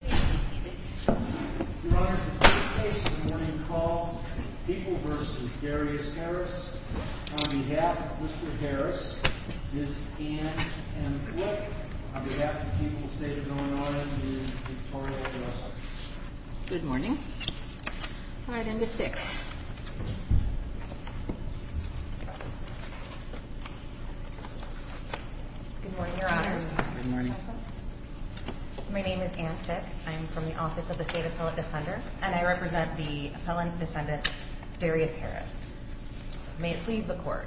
on behalf of Mr. Harris, Ms. Ann, and Flip, on behalf of the people of the state of Illinois and the Victoria address office. Good morning. All right, I'm going to speak. Good morning, Your Honors. Good morning. My name is Ann Fick. I'm from the Office of the State Appellate Defender, and I represent the appellant defendant, Darius Harris. May it please the Court.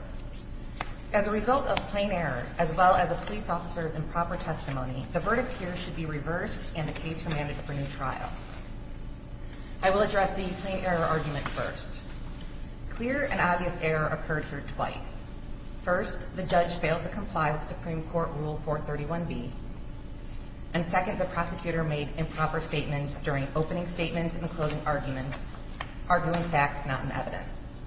As a result of plain error, as well as a police officer's improper testimony, the verdict here should be reversed and the case remanded for new trial. I will address the plain error argument first. Clear and obvious error occurred here twice. First, the judge failed to comply with Supreme Court Rule 431B. And second, the prosecutor made improper statements during opening statements and closing arguments, arguing facts, not in evidence.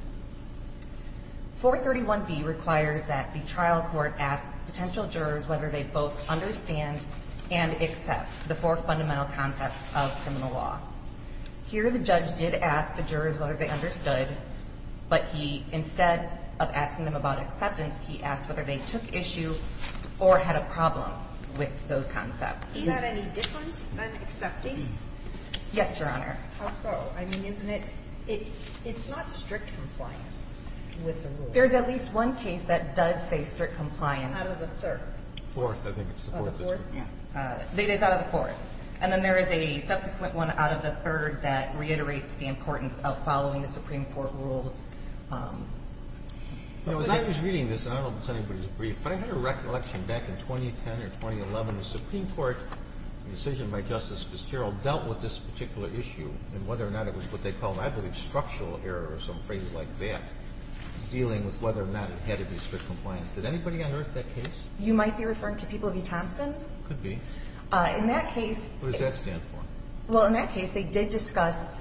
431B requires that the trial court ask potential jurors whether they both understand and accept the four fundamental concepts of criminal law. Here, the judge did ask the jurors whether they understood, but he, instead of asking them about acceptance, he asked whether they took issue or had a problem with those concepts. Is that any different than accepting? Yes, Your Honor. How so? I mean, isn't it – it's not strict compliance with the rule? There's at least one case that does say strict compliance. Out of the third? Fourth, I think. Of the fourth? Yeah. It is out of the fourth. And then there is a subsequent one out of the third that reiterates the importance of following the Supreme Court rules. You know, as I was reading this, and I don't know if it's anybody's brief, but I had a recollection back in 2010 or 2011, the Supreme Court, a decision by Justice Fitzgerald, dealt with this particular issue and whether or not it was what they called, I believe, structural error or some phrase like that, dealing with whether or not it had to be strict compliance. Did anybody unearth that case? You might be referring to people v. Thompson? Could be. In that case – What does that stand for? Well, in that case, they did discuss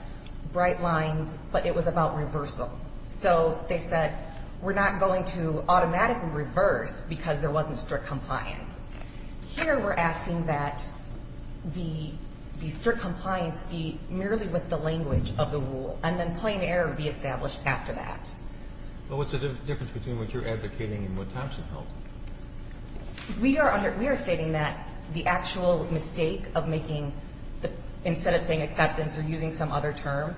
bright lines, but it was about reversal. So they said, we're not going to automatically reverse because there wasn't strict compliance. Here we're asking that the strict compliance be merely with the language of the rule, and then plain error be established after that. Well, what's the difference between what you're advocating and what Thompson held? We are under – we are stating that the actual mistake of making the – instead of saying acceptance or using some other term,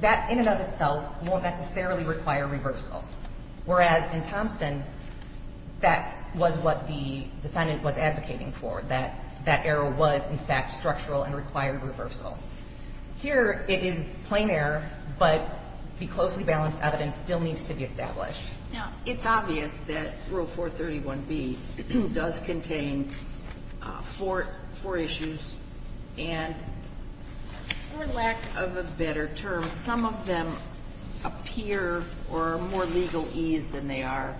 that in and of itself won't necessarily require reversal, whereas in Thompson, that was what the defendant was advocating for, that that error was, in fact, structural and required reversal. Here it is plain error, but the closely balanced evidence still needs to be established. Now, it's obvious that Rule 431B does contain four issues, and for lack of a better term, some of them appear or are more legalese than they are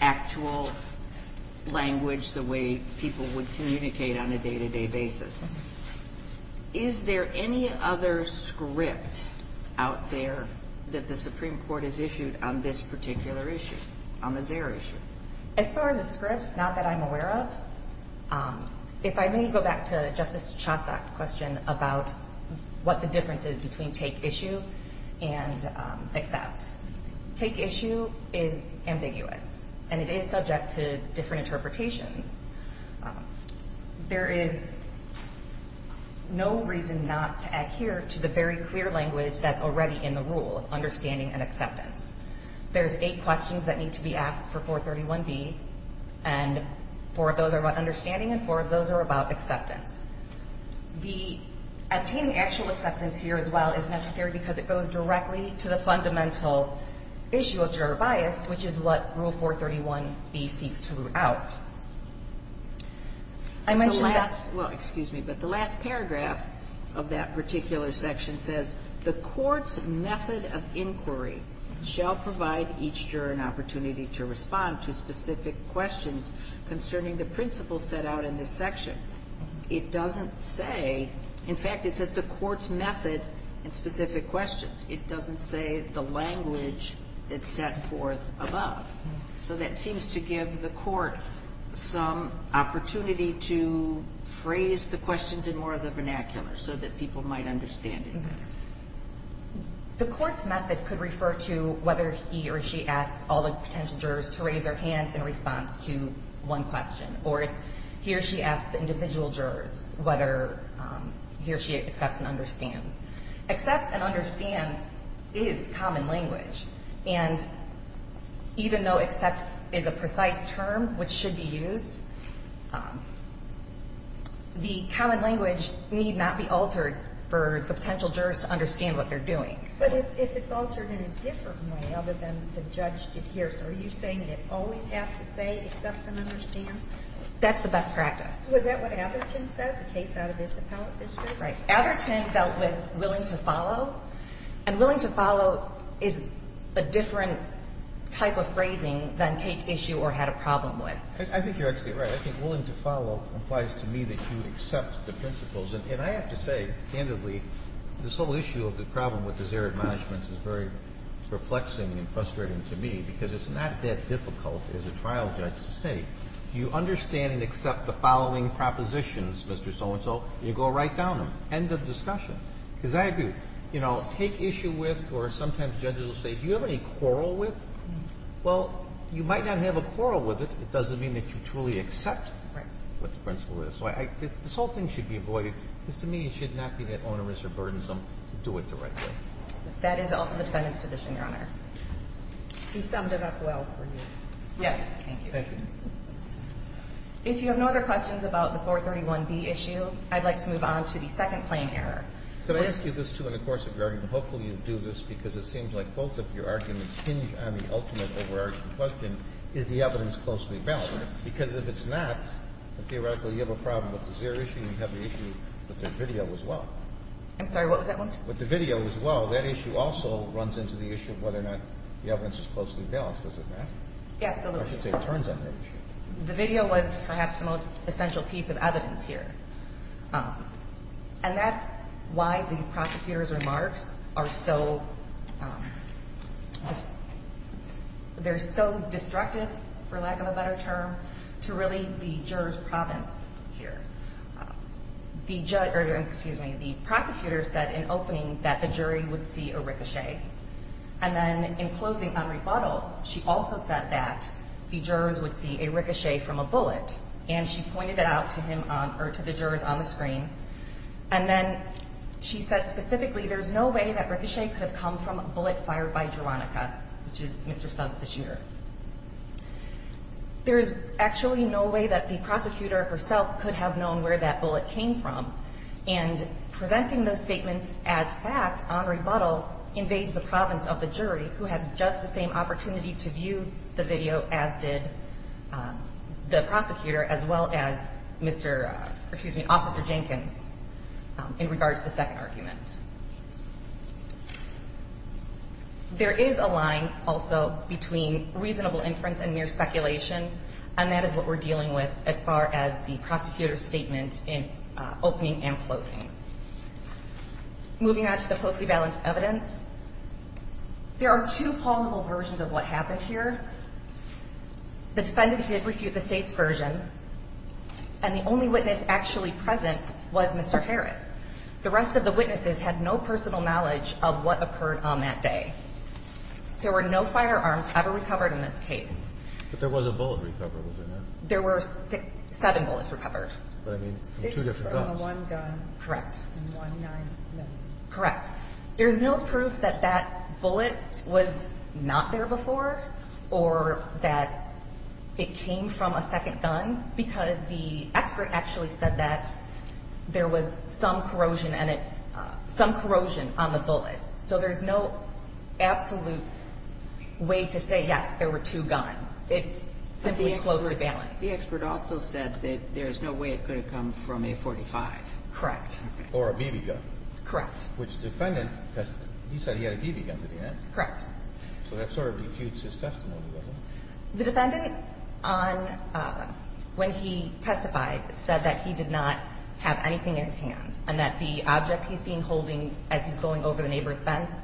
actual language, the way people would communicate on a day-to-day basis. Is there any other script out there that the Supreme Court has issued on this particular issue, on this error issue? As far as a script, not that I'm aware of, if I may go back to Justice Shostak's question about what the difference is between take issue and accept. Take issue is ambiguous, and it is subject to different interpretations. There is no reason not to adhere to the very clear language that's already in the rule, understanding and acceptance. There's eight questions that need to be asked for 431B, and four of those are about understanding and four of those are about acceptance. The obtaining actual acceptance here as well is necessary because it goes directly to the fundamental issue of juror bias, which is what Rule 431B seeks to root out. I mentioned that. Well, excuse me, but the last paragraph of that particular section says, The Court's method of inquiry shall provide each juror an opportunity to respond to specific questions concerning the principles set out in this section. It doesn't say, in fact, it says the Court's method and specific questions. It doesn't say the language that's set forth above. So that seems to give the Court some opportunity to phrase the questions in more of the vernacular so that people might understand it better. The Court's method could refer to whether he or she asks all the potential jurors to raise their hand in response to one question, or if he or she asks the individual Accepts and understands is common language, and even though accept is a precise term which should be used, the common language need not be altered for the potential jurors to understand what they're doing. But if it's altered in a different way other than the judge did here, so are you saying it always has to say accepts and understands? That's the best practice. Was that what Atherton says, a case out of this appellate district? Right. Atherton dealt with willing to follow. And willing to follow is a different type of phrasing than take issue or had a problem with. I think you're actually right. I think willing to follow implies to me that you accept the principles. And I have to say, candidly, this whole issue of the problem with the zerid management is very perplexing and frustrating to me because it's not that difficult as a trial judge to say, you understand and accept the following propositions, Mr. So-and-so, and you go right down them. End of discussion. Because I agree. You know, take issue with or sometimes judges will say, do you have any quarrel with? Well, you might not have a quarrel with it. It doesn't mean that you truly accept what the principle is. So this whole thing should be avoided because to me it should not be that onerous or burdensome to do it the right way. That is also the defendant's position, Your Honor. He summed it up well for you. Yes. Thank you. Thank you. If you have no other questions about the 431B issue, I'd like to move on to the second claim error. Could I ask you this, too, in the course of your argument? Hopefully you'll do this because it seems like both of your arguments hinge on the ultimate overarching question, is the evidence closely balanced? Because if it's not, theoretically you have a problem with the zero issue and you have the issue with the video as well. I'm sorry. What was that one? With the video as well. That issue also runs into the issue of whether or not the evidence is closely balanced, does it not? Yes. Absolutely. I should say it turns on the issue. The video was perhaps the most essential piece of evidence here. And that's why these prosecutors' remarks are so, they're so destructive, for lack of a better term, to really the juror's province here. The prosecutor said in opening that the jury would see a ricochet. And then in closing on rebuttal, she also said that the jurors would see a ricochet from a bullet. And she pointed it out to him on, or to the jurors on the screen. And then she said specifically, there's no way that ricochet could have come from a bullet fired by Jeronica, which is Mr. Sugg's shooter. There's actually no way that the prosecutor herself could have known where that bullet came from. And presenting those statements as fact on rebuttal invades the province of the jury who had just the same opportunity to view the video as did the prosecutor, as well as Mr. or, excuse me, Officer Jenkins, in regard to the second argument. There is a line also between reasonable inference and mere speculation, and that is what we're dealing with as far as the prosecutor's statement in opening and closing. Moving on to the closely balanced evidence, there are two plausible versions of what happened here. The defendant did refute the State's version, and the only witness actually present was Mr. Harris. The rest of the witnesses had no personal knowledge of what occurred on that day. There were no firearms ever recovered in this case. But there was a bullet recovered, was there not? There were seven bullets recovered. But, I mean, from two different guns. Six from the one gun. Correct. And one 9mm. Correct. There's no proof that that bullet was not there before or that it came from a second gun, because the expert actually said that there was some corrosion on the bullet. So there's no absolute way to say, yes, there were two guns. It's simply closely balanced. But the expert also said that there's no way it could have come from a .45. Correct. Or a BB gun. Correct. Which the defendant testified. He said he had a BB gun at the end. Correct. So that sort of refutes his testimony, doesn't it? The defendant, when he testified, said that he did not have anything in his hands and that the object he's seen holding as he's going over the neighbor's fence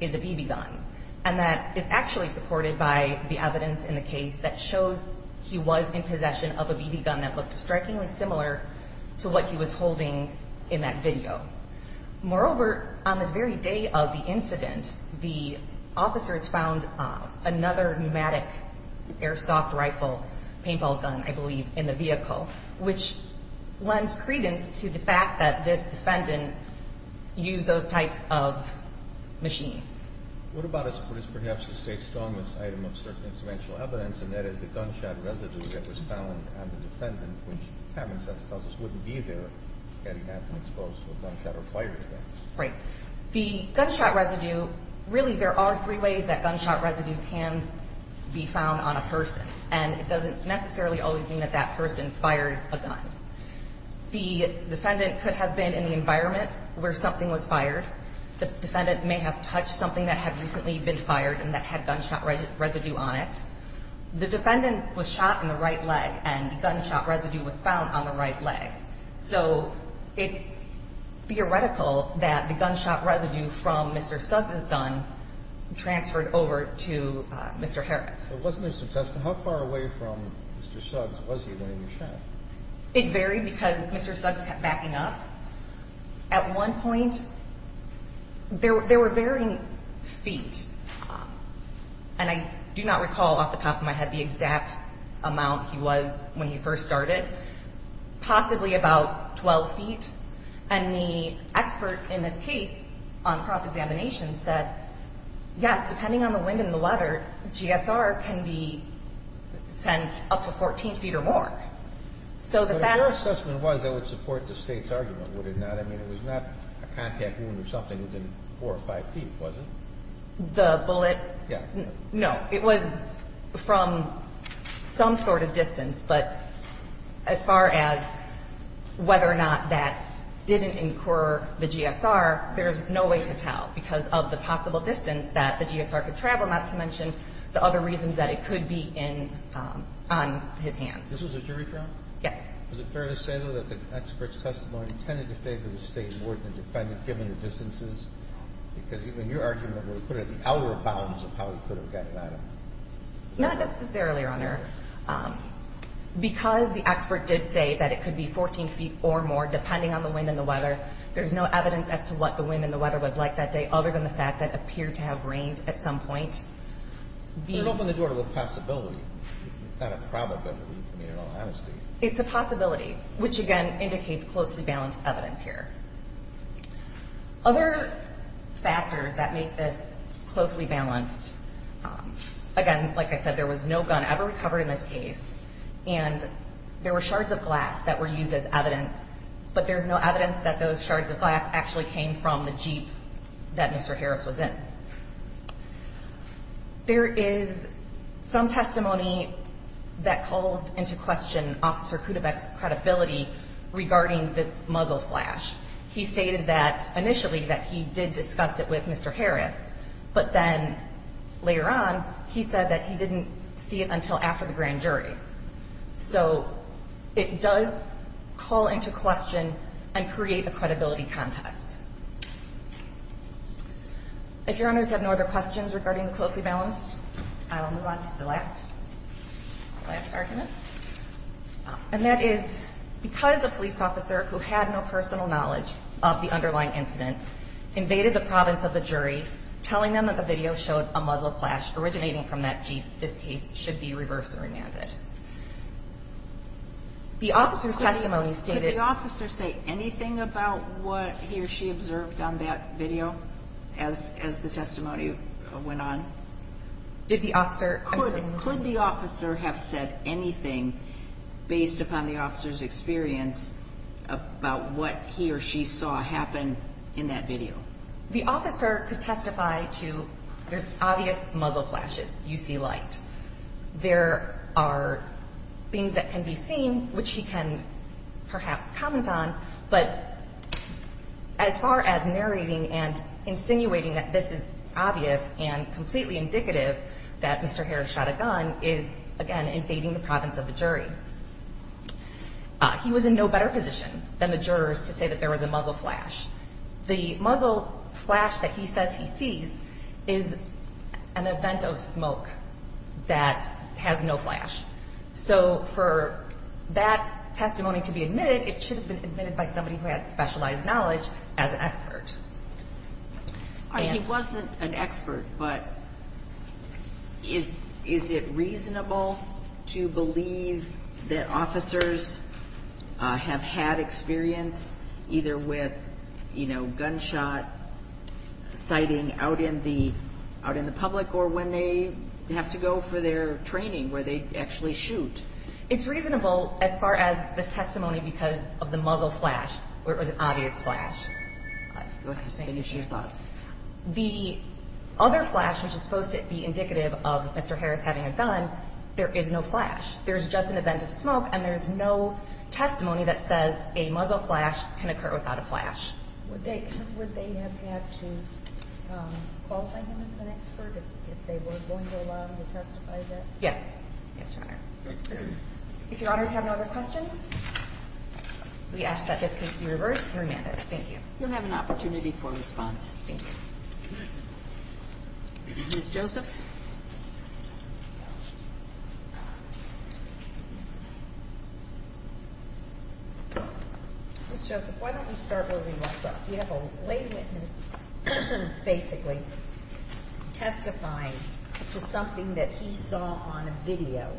is a BB gun and that it's actually supported by the evidence in the case that shows he was in possession of a BB gun that looked strikingly similar to what he was holding in that video. Moreover, on the very day of the incident, the officers found another pneumatic airsoft rifle paintball gun, I believe, in the vehicle, which lends credence to the fact that this defendant used those types of machines. What about perhaps the state's strongest item of circumstantial evidence, and that is the gunshot residue that was found on the defendant, which having said thus wouldn't be there had he not been exposed to a gunshot or fire event? Right. The gunshot residue, really there are three ways that gunshot residue can be found on a person, and it doesn't necessarily always mean that that person fired a gun. The defendant could have been in the environment where something was fired. The defendant may have touched something that had recently been fired and that had gunshot residue on it. The defendant was shot in the right leg, and the gunshot residue was found on the right leg. So it's theoretical that the gunshot residue from Mr. Suds' gun transferred over to Mr. Harris. But wasn't there some testing? How far away from Mr. Suds was he when he was shot? It varied because Mr. Suds kept backing up. At one point, there were varying feet, and I do not recall off the top of my head the exact amount he was when he first started, possibly about 12 feet, and the expert in this case on cross-examination said, yes, depending on the wind and the weather, GSR can be sent up to 14 feet or more. So the fact that the assessment was that would support the State's argument, would it not? I mean, it was not a contact wound or something within 4 or 5 feet, was it? The bullet? Yeah. No. It was from some sort of distance, but as far as whether or not that didn't incur the GSR, there's no way to tell because of the possible distance that the GSR could travel, not to mention the other reasons that it could be in – on his hands. This was a jury trial? Yes. Was it fair to say, though, that the expert's testimony tended to favor the State's warrant and defendant given the distances? Because your argument would have put it at the outer bounds of how he could have gotten at him. Not necessarily, Your Honor. Because the expert did say that it could be 14 feet or more depending on the wind and the weather, there's no evidence as to what the wind and the weather was like that day other than the fact that it appeared to have rained at some point. You're opening the door to a possibility, not a probability, I mean, in all honesty. It's a possibility, which, again, indicates closely balanced evidence here. Other factors that make this closely balanced, again, like I said, there was no gun ever recovered in this case, and there were shards of glass that were used as evidence, but there's no evidence that those shards of glass actually came from the Jeep that Mr. Harris was in. There is some testimony that called into question Officer Kudebeck's credibility regarding this muzzle flash. He stated that – initially that he did discuss it with Mr. Harris, but then later on he said that he didn't see it until after the grand jury. So it does call into question and create a credibility contest. If Your Honors have no other questions regarding the closely balanced, I will move on to the last argument. And that is because a police officer who had no personal knowledge of the underlying incident invaded the province of the jury, telling them that the video showed a muzzle flash originating from that Jeep, this case should be reversed and remanded. The officer's testimony stated – Could the officer say anything about what he or she observed on that video as the testimony went on? Did the officer – Could the officer have said anything based upon the officer's experience about what he or she saw happen in that video? The officer could testify to there's obvious muzzle flashes, you see light. There are things that can be seen, which he can perhaps comment on, but as far as narrating and insinuating that this is obvious and completely indicative that Mr. Harris shot a gun is, again, invading the province of the jury. He was in no better position than the jurors to say that there was a muzzle flash. The muzzle flash that he says he sees is an event of smoke that has no flash. So for that testimony to be admitted, it should have been admitted by somebody who had specialized knowledge as an expert. He wasn't an expert, but is it reasonable to believe that officers have had experience either with gunshot sighting out in the public or when they have to go for their training where they actually shoot? It's reasonable as far as this testimony because of the muzzle flash, where it was an obvious flash. Go ahead and finish your thoughts. The other flash, which is supposed to be indicative of Mr. Harris having a gun, there is no flash. There's just an event of smoke, and there's no testimony that says a muzzle flash can occur without a flash. Would they have had to qualify him as an expert if they were going to allow him to testify to that? Yes. Yes, Your Honor. If Your Honors have no other questions, we ask that this case be reversed. Thank you. You'll have an opportunity for response. Thank you. Ms. Joseph? Ms. Joseph, why don't we start where we left off? We have a lay witness basically testifying to something that he saw on a video.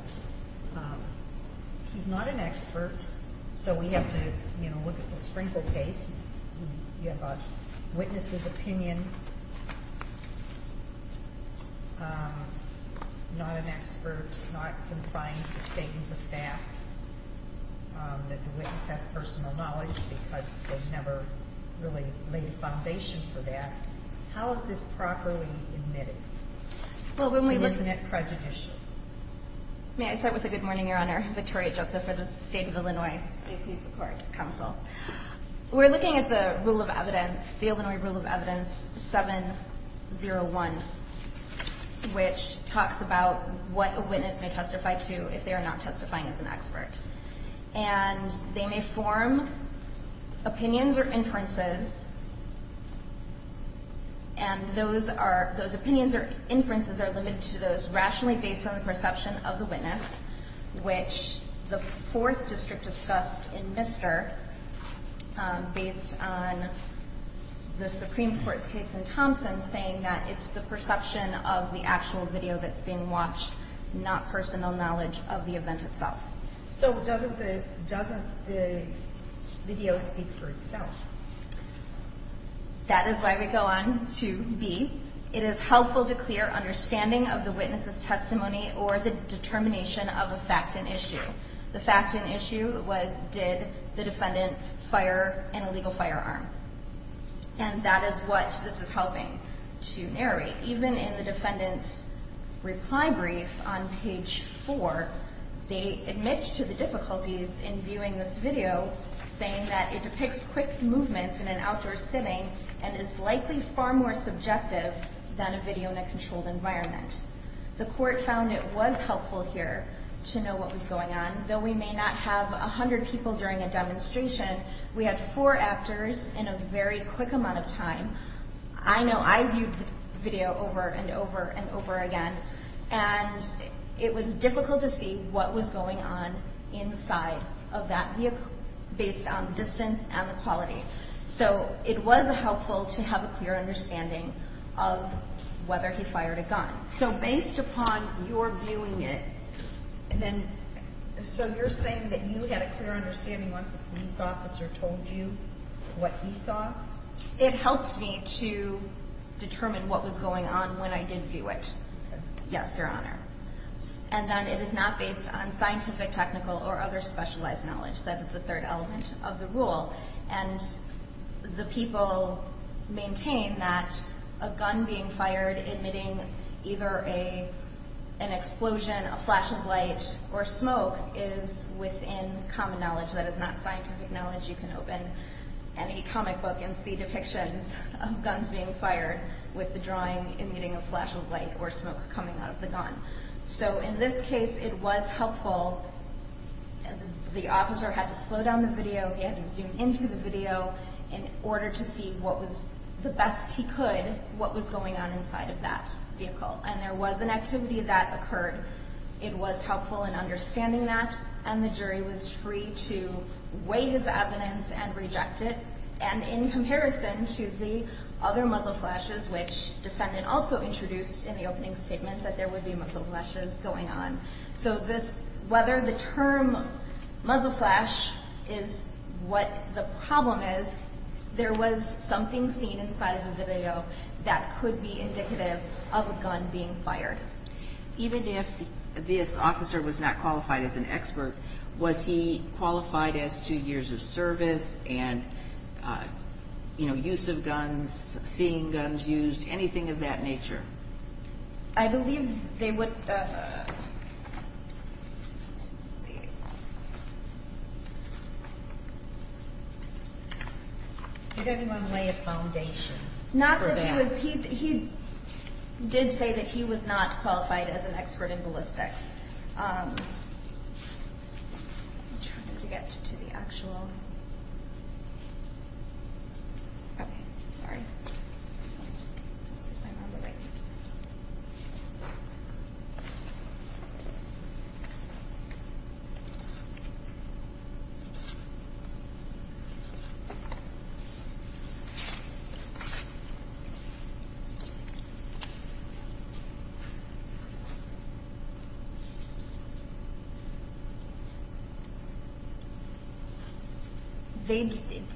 He's not an expert, so we have to look at the Sprinkle case. You have a witness's opinion, not an expert, not confined to statements of fact, that the witness has personal knowledge because they've never really laid a foundation for that. How is this properly admitted? Well, when we look at prejudice. May I start with a good morning, Your Honor? Victoria Joseph for the State of Illinois. Thank you for the court. Counsel. We're looking at the rule of evidence, the Illinois Rule of Evidence 701, which talks about what a witness may testify to if they are not testifying as an expert. And they may form opinions or inferences, and those opinions or inferences are limited to those rationally based on the perception of the witness, which the Fourth District discussed in Mister based on the Supreme Court's case in Thompson, saying that it's the perception of the actual video that's being watched, not personal knowledge of the event itself. So doesn't the video speak for itself? That is why we go on to B. It is helpful to clear understanding of the witness's testimony or the determination of a fact and issue. The fact and issue was did the defendant fire an illegal firearm? And that is what this is helping to narrate. Even in the defendant's reply brief on page 4, they admit to the difficulties in viewing this video, saying that it depicts quick movements in an outdoor setting and is likely far more subjective than a video in a controlled environment. The court found it was helpful here to know what was going on. Though we may not have 100 people during a demonstration, we had four actors in a very quick amount of time. I know I viewed the video over and over and over again, and it was difficult to see what was going on inside of that vehicle based on the distance and the quality. So it was helpful to have a clear understanding of whether he fired a gun. So based upon your viewing it, so you're saying that you had a clear understanding once the police officer told you what he saw? It helped me to determine what was going on when I did view it. Yes, Your Honor. And then it is not based on scientific, technical, or other specialized knowledge. That is the third element of the rule. And the people maintain that a gun being fired, emitting either an explosion, a flash of light, or smoke is within common knowledge. That is not scientific knowledge. You can open any comic book and see depictions of guns being fired with the drawing emitting a flash of light or smoke coming out of the gun. So in this case, it was helpful. The officer had to slow down the video. He had to zoom into the video in order to see what was the best he could, what was going on inside of that vehicle. And there was an activity that occurred. It was helpful in understanding that. And the jury was free to weigh his evidence and reject it. And in comparison to the other muzzle flashes, which the defendant also introduced in the opening statement, that there would be muzzle flashes going on. So whether the term muzzle flash is what the problem is, there was something seen inside of the video that could be indicative of a gun being fired. Even if this officer was not qualified as an expert, was he qualified as two years of service and, you know, use of guns, seeing guns used, anything of that nature? I believe they would... Did anyone lay a foundation for that? Not that he was... He did say that he was not qualified as an expert in ballistics. I'm trying to get to the actual... Okay, sorry. Let's see if I remember right. Okay.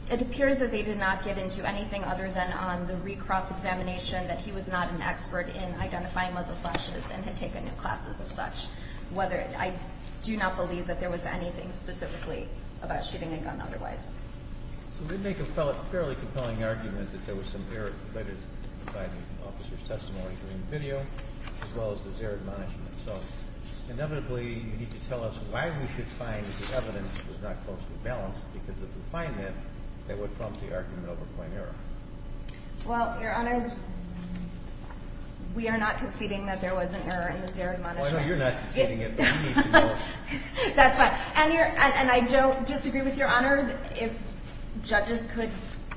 It appears that they did not get into anything other than on the recross examination that he was not an expert in identifying muzzle flashes and had taken no classes of such. I do not believe that there was anything specifically about shooting a gun otherwise. So we'd make a fairly compelling argument that there was some error committed by the officer's testimony during the video as well as the zeroed monitoring itself. Inevitably, you need to tell us why we should find that the evidence was not closely balanced because of the confinement that would prompt the argument over point error. Well, Your Honors, we are not conceding that there was an error in the zeroed monitoring. Well, I know you're not conceding it, but we need to know... That's fine. And I don't disagree with Your Honor that if judges could,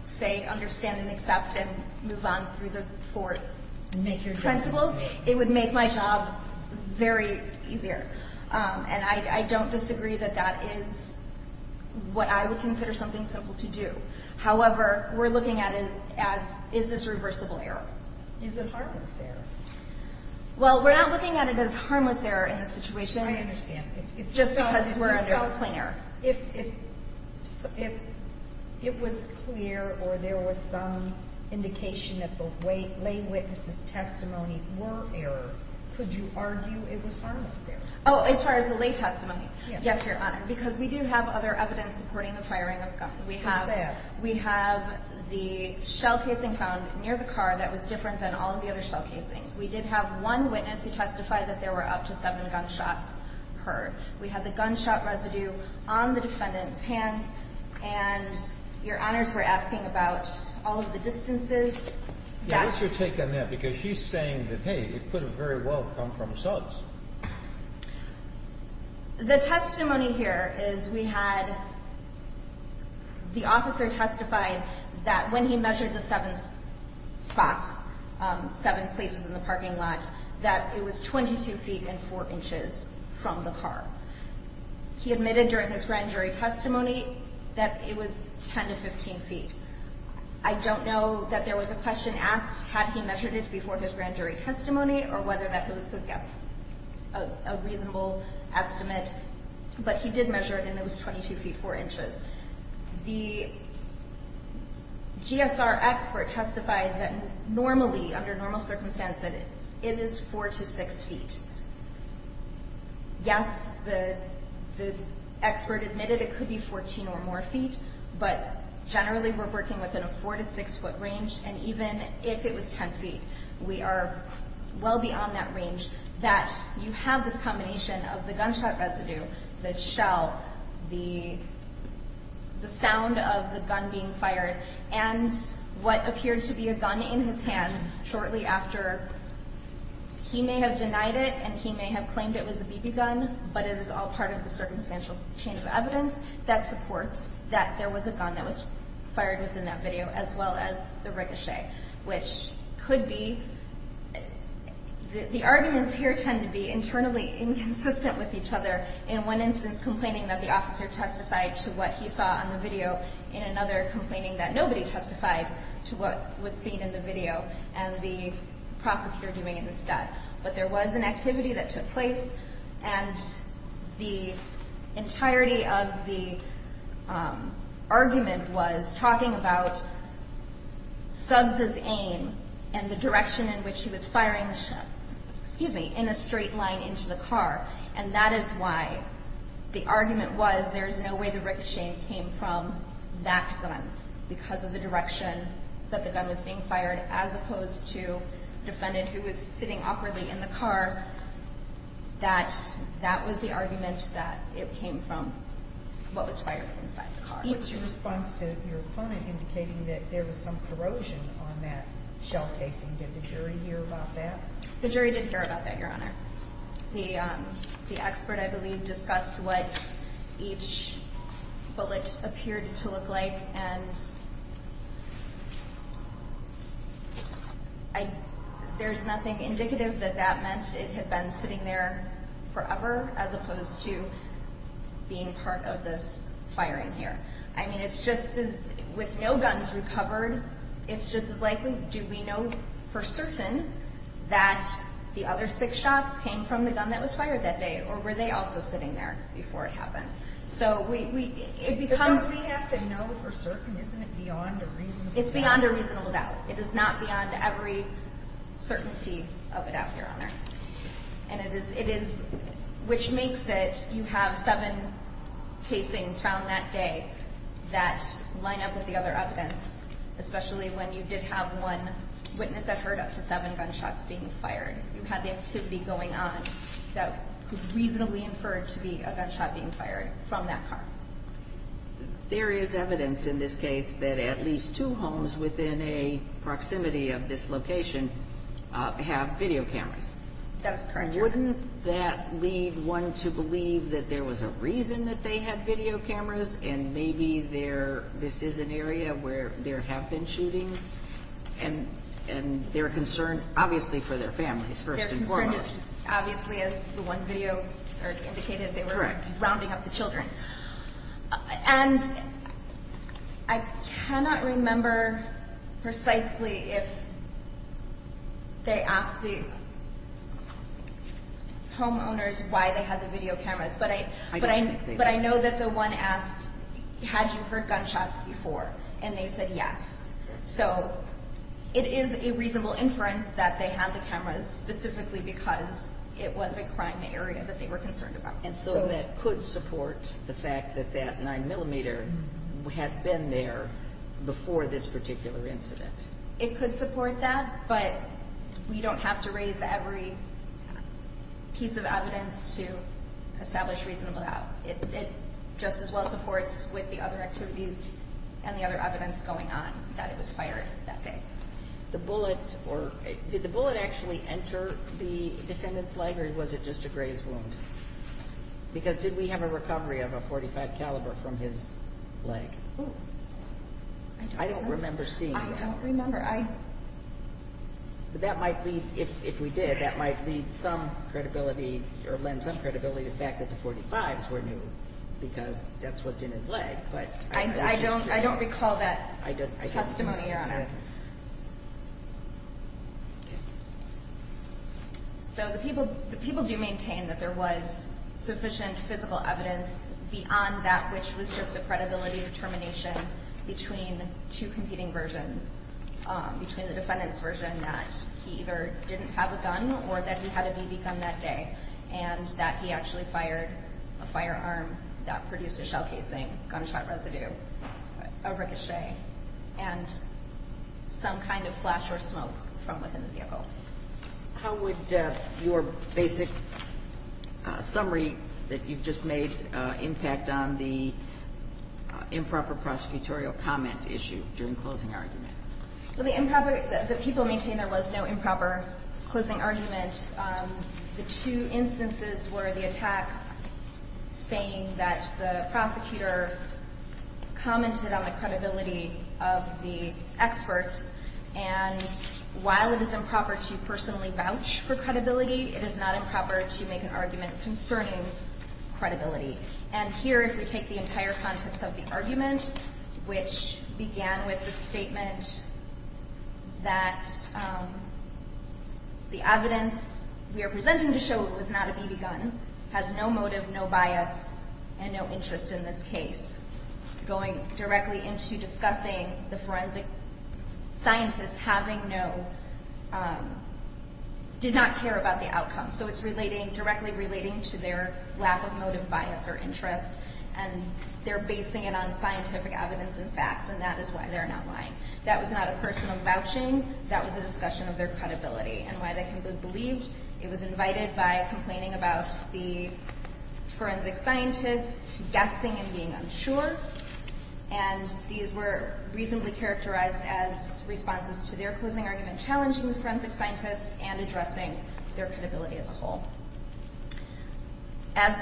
say, understand and accept and move on through the court principles, it would make my job very easier. And I don't disagree that that is what I would consider something simple to do. However, we're looking at it as, is this reversible error? Is it harmless error? Well, we're not looking at it as harmless error in this situation. I understand. Just because we're under plain error. If it was clear or there was some indication that the lay witness's testimony were error, could you argue it was harmless error? Oh, as far as the lay testimony. Yes, Your Honor. Because we do have other evidence supporting the firing of a gun. Who's that? We have the shell casing found near the car that was different than all of the other shell casings. We did have one witness who testified that there were up to seven gunshots heard. We have the gunshot residue on the defendant's hands. And Your Honors were asking about all of the distances. Yes. What's your take on that? Because she's saying that, hey, it could have very well come from a substance. The testimony here is we had the officer testify that when he measured the seven spots, seven places in the parking lot, that it was 22 feet and 4 inches from the car. He admitted during his grand jury testimony that it was 10 to 15 feet. I don't know that there was a question asked had he measured it before his grand jury testimony or whether that was his guess, a reasonable estimate. But he did measure it and it was 22 feet 4 inches. The GSR expert testified that normally, under normal circumstances, it is 4 to 6 feet. Yes, the expert admitted it could be 14 or more feet, but generally we're working within a 4 to 6 foot range, and even if it was 10 feet, we are well beyond that range, that you have this combination of the gunshot residue, the shell, the sound of the gun being fired, and what appeared to be a gun in his hand shortly after. He may have denied it and he may have claimed it was a BB gun, but it is all part of the circumstantial chain of evidence that supports that there was a gun that was fired within that video as well as the ricochet, which could be... The arguments here tend to be internally inconsistent with each other. In one instance, complaining that the officer testified to what he saw on the video. In another, complaining that nobody testified to what was seen in the video and the prosecutor doing it instead. But there was an activity that took place and the entirety of the argument was talking about Suggs' aim and the direction in which he was firing the shot, excuse me, in a straight line into the car. And that is why the argument was there's no way the ricochet came from that gun because of the direction that the gun was being fired as opposed to the defendant who was sitting awkwardly in the car. That was the argument that it came from what was fired inside the car. What's your response to your opponent indicating that there was some corrosion on that shell casing? Did the jury hear about that? The jury didn't hear about that, Your Honor. The expert, I believe, discussed what each bullet appeared to look like and there's nothing indicative that that meant it had been sitting there forever as opposed to being part of this firing here. I mean, it's just as with no guns recovered, it's just as likely do we know for certain that the other six shots came from the gun that was fired that day or were they also sitting there before it happened. So we, it becomes... So we have to know for certain, isn't it beyond a reasonable doubt? It's beyond a reasonable doubt. It is not beyond every certainty of a doubt, Your Honor. And it is, which makes it, you have seven casings found that day that line up with the other evidence, especially when you did have one witness that heard up to seven gunshots being fired. You had the activity going on that could reasonably infer to be a gunshot being fired from that car. There is evidence in this case that at least two homes within a proximity of this location have video cameras. That is correct, Your Honor. Does that leave one to believe that there was a reason that they had video cameras and maybe this is an area where there have been shootings? And they're concerned, obviously, for their families first and foremost. They're concerned, obviously, as the one video indicated, they were rounding up the children. And I cannot remember precisely if they asked the homeowners why they had the video cameras, but I know that the one asked, had you heard gunshots before? And they said yes. So it is a reasonable inference that they had the cameras specifically because it was a crime area that they were concerned about. And so that could support the fact that that 9mm had been there before this particular incident. It could support that, but we don't have to raise every piece of evidence to establish reasonable doubt. It just as well supports with the other activities and the other evidence going on that it was fired that day. The bullet or did the bullet actually enter the defendant's leg or was it just a grazed wound? Because did we have a recovery of a .45 caliber from his leg? I don't remember seeing that. I don't remember. That might lead, if we did, that might lead some credibility or lend some credibility to the fact that the .45s were new because that's what's in his leg. I don't recall that testimony, Your Honor. So the people do maintain that there was sufficient physical evidence beyond that, which was just a credibility determination between two competing versions, between the defendant's version that he either didn't have a gun or that he had a BB gun that day and that he actually fired a firearm that produced a shell casing, gunshot residue, a ricochet. And some kind of flash or smoke from within the vehicle. How would your basic summary that you've just made impact on the improper prosecutorial comment issue during closing argument? Well, the improper – the people maintain there was no improper closing argument. The two instances were the attack saying that the prosecutor commented on the credibility of the experts. And while it is improper to personally vouch for credibility, it is not improper to make an argument concerning credibility. And here, if we take the entire context of the argument, which began with the statement that the evidence we are presenting to show it was not a BB gun, has no motive, no bias, and no interest in this case, going directly into discussing the forensic scientists having no – did not care about the outcome. So it's relating – directly relating to their lack of motive, bias, or interest. And they're basing it on scientific evidence and facts, and that is why they're not lying. That was not a personal vouching. That was a discussion of their credibility and why they completely believed. It was invited by complaining about the forensic scientists guessing and being unsure. And these were reasonably characterized as responses to their closing argument challenging the forensic scientists and addressing their credibility as a whole. As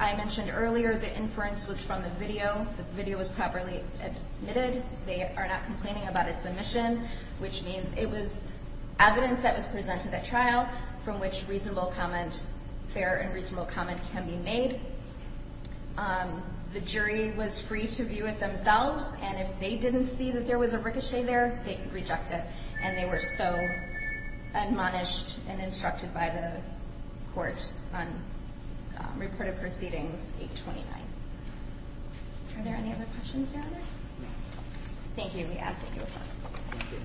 I mentioned earlier, the inference was from the video. The video was properly admitted. They are not complaining about its omission, which means it was evidence that was presented at trial from which reasonable comment – fair and reasonable comment can be made. The jury was free to view it themselves, and if they didn't see that there was a ricochet there, they could reject it. And they were so admonished and instructed by the court on Reported Proceedings 829. Are there any other questions down there? No. Thank you. We ask that you withdraw. Thank you.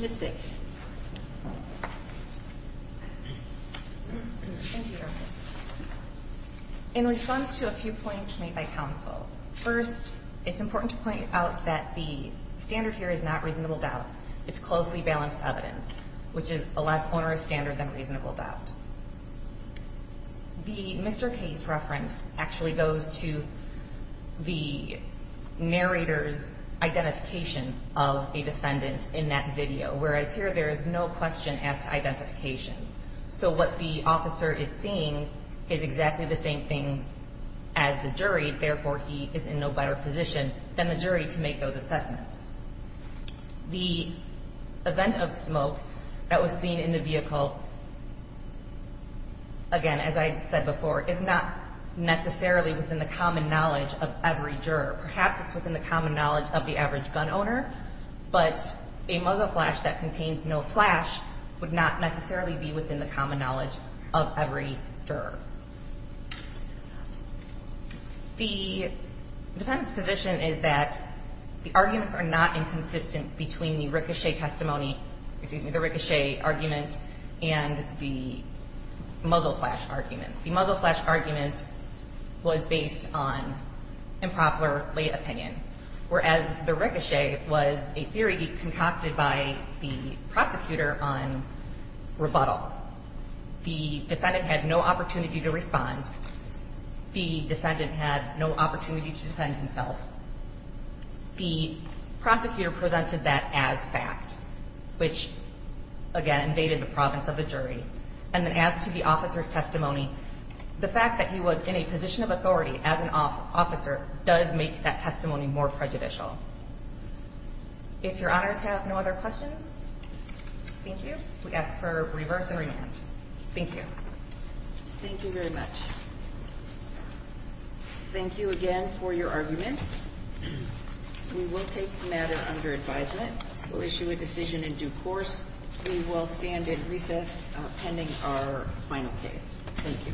Ms. Vick. Thank you, Your Honors. In response to a few points made by counsel, first, it's important to point out that the standard here is not reasonable doubt. It's closely balanced evidence, which is a less onerous standard than reasonable doubt. The Mr. Case reference actually goes to the narrator's identification of a defendant in that video, whereas here there is no question as to identification. So what the officer is seeing is exactly the same things as the jury, therefore he is in no better position than the jury to make those assessments. The event of smoke that was seen in the vehicle, again, as I said before, is not necessarily within the common knowledge of every juror. Perhaps it's within the common knowledge of the average gun owner, but a muzzle flash that contains no flash would not necessarily be within the common knowledge of every juror. The defendant's position is that the arguments are not inconsistent between the ricochet testimony, excuse me, the ricochet argument and the muzzle flash argument. The muzzle flash argument was based on improperly opinion, whereas the ricochet was a theory concocted by the prosecutor on rebuttal. The defendant had no opportunity to respond. The defendant had no opportunity to defend himself. The prosecutor presented that as fact, which, again, invaded the province of the jury. And then as to the officer's testimony, the fact that he was in a position of authority as an officer does make that testimony more prejudicial. If your honors have no other questions, thank you. We ask for reverse and remand. Thank you. Thank you very much. Thank you again for your arguments. We will take the matter under advisement. We'll issue a decision in due course. We will stand at recess pending our final case. Thank you.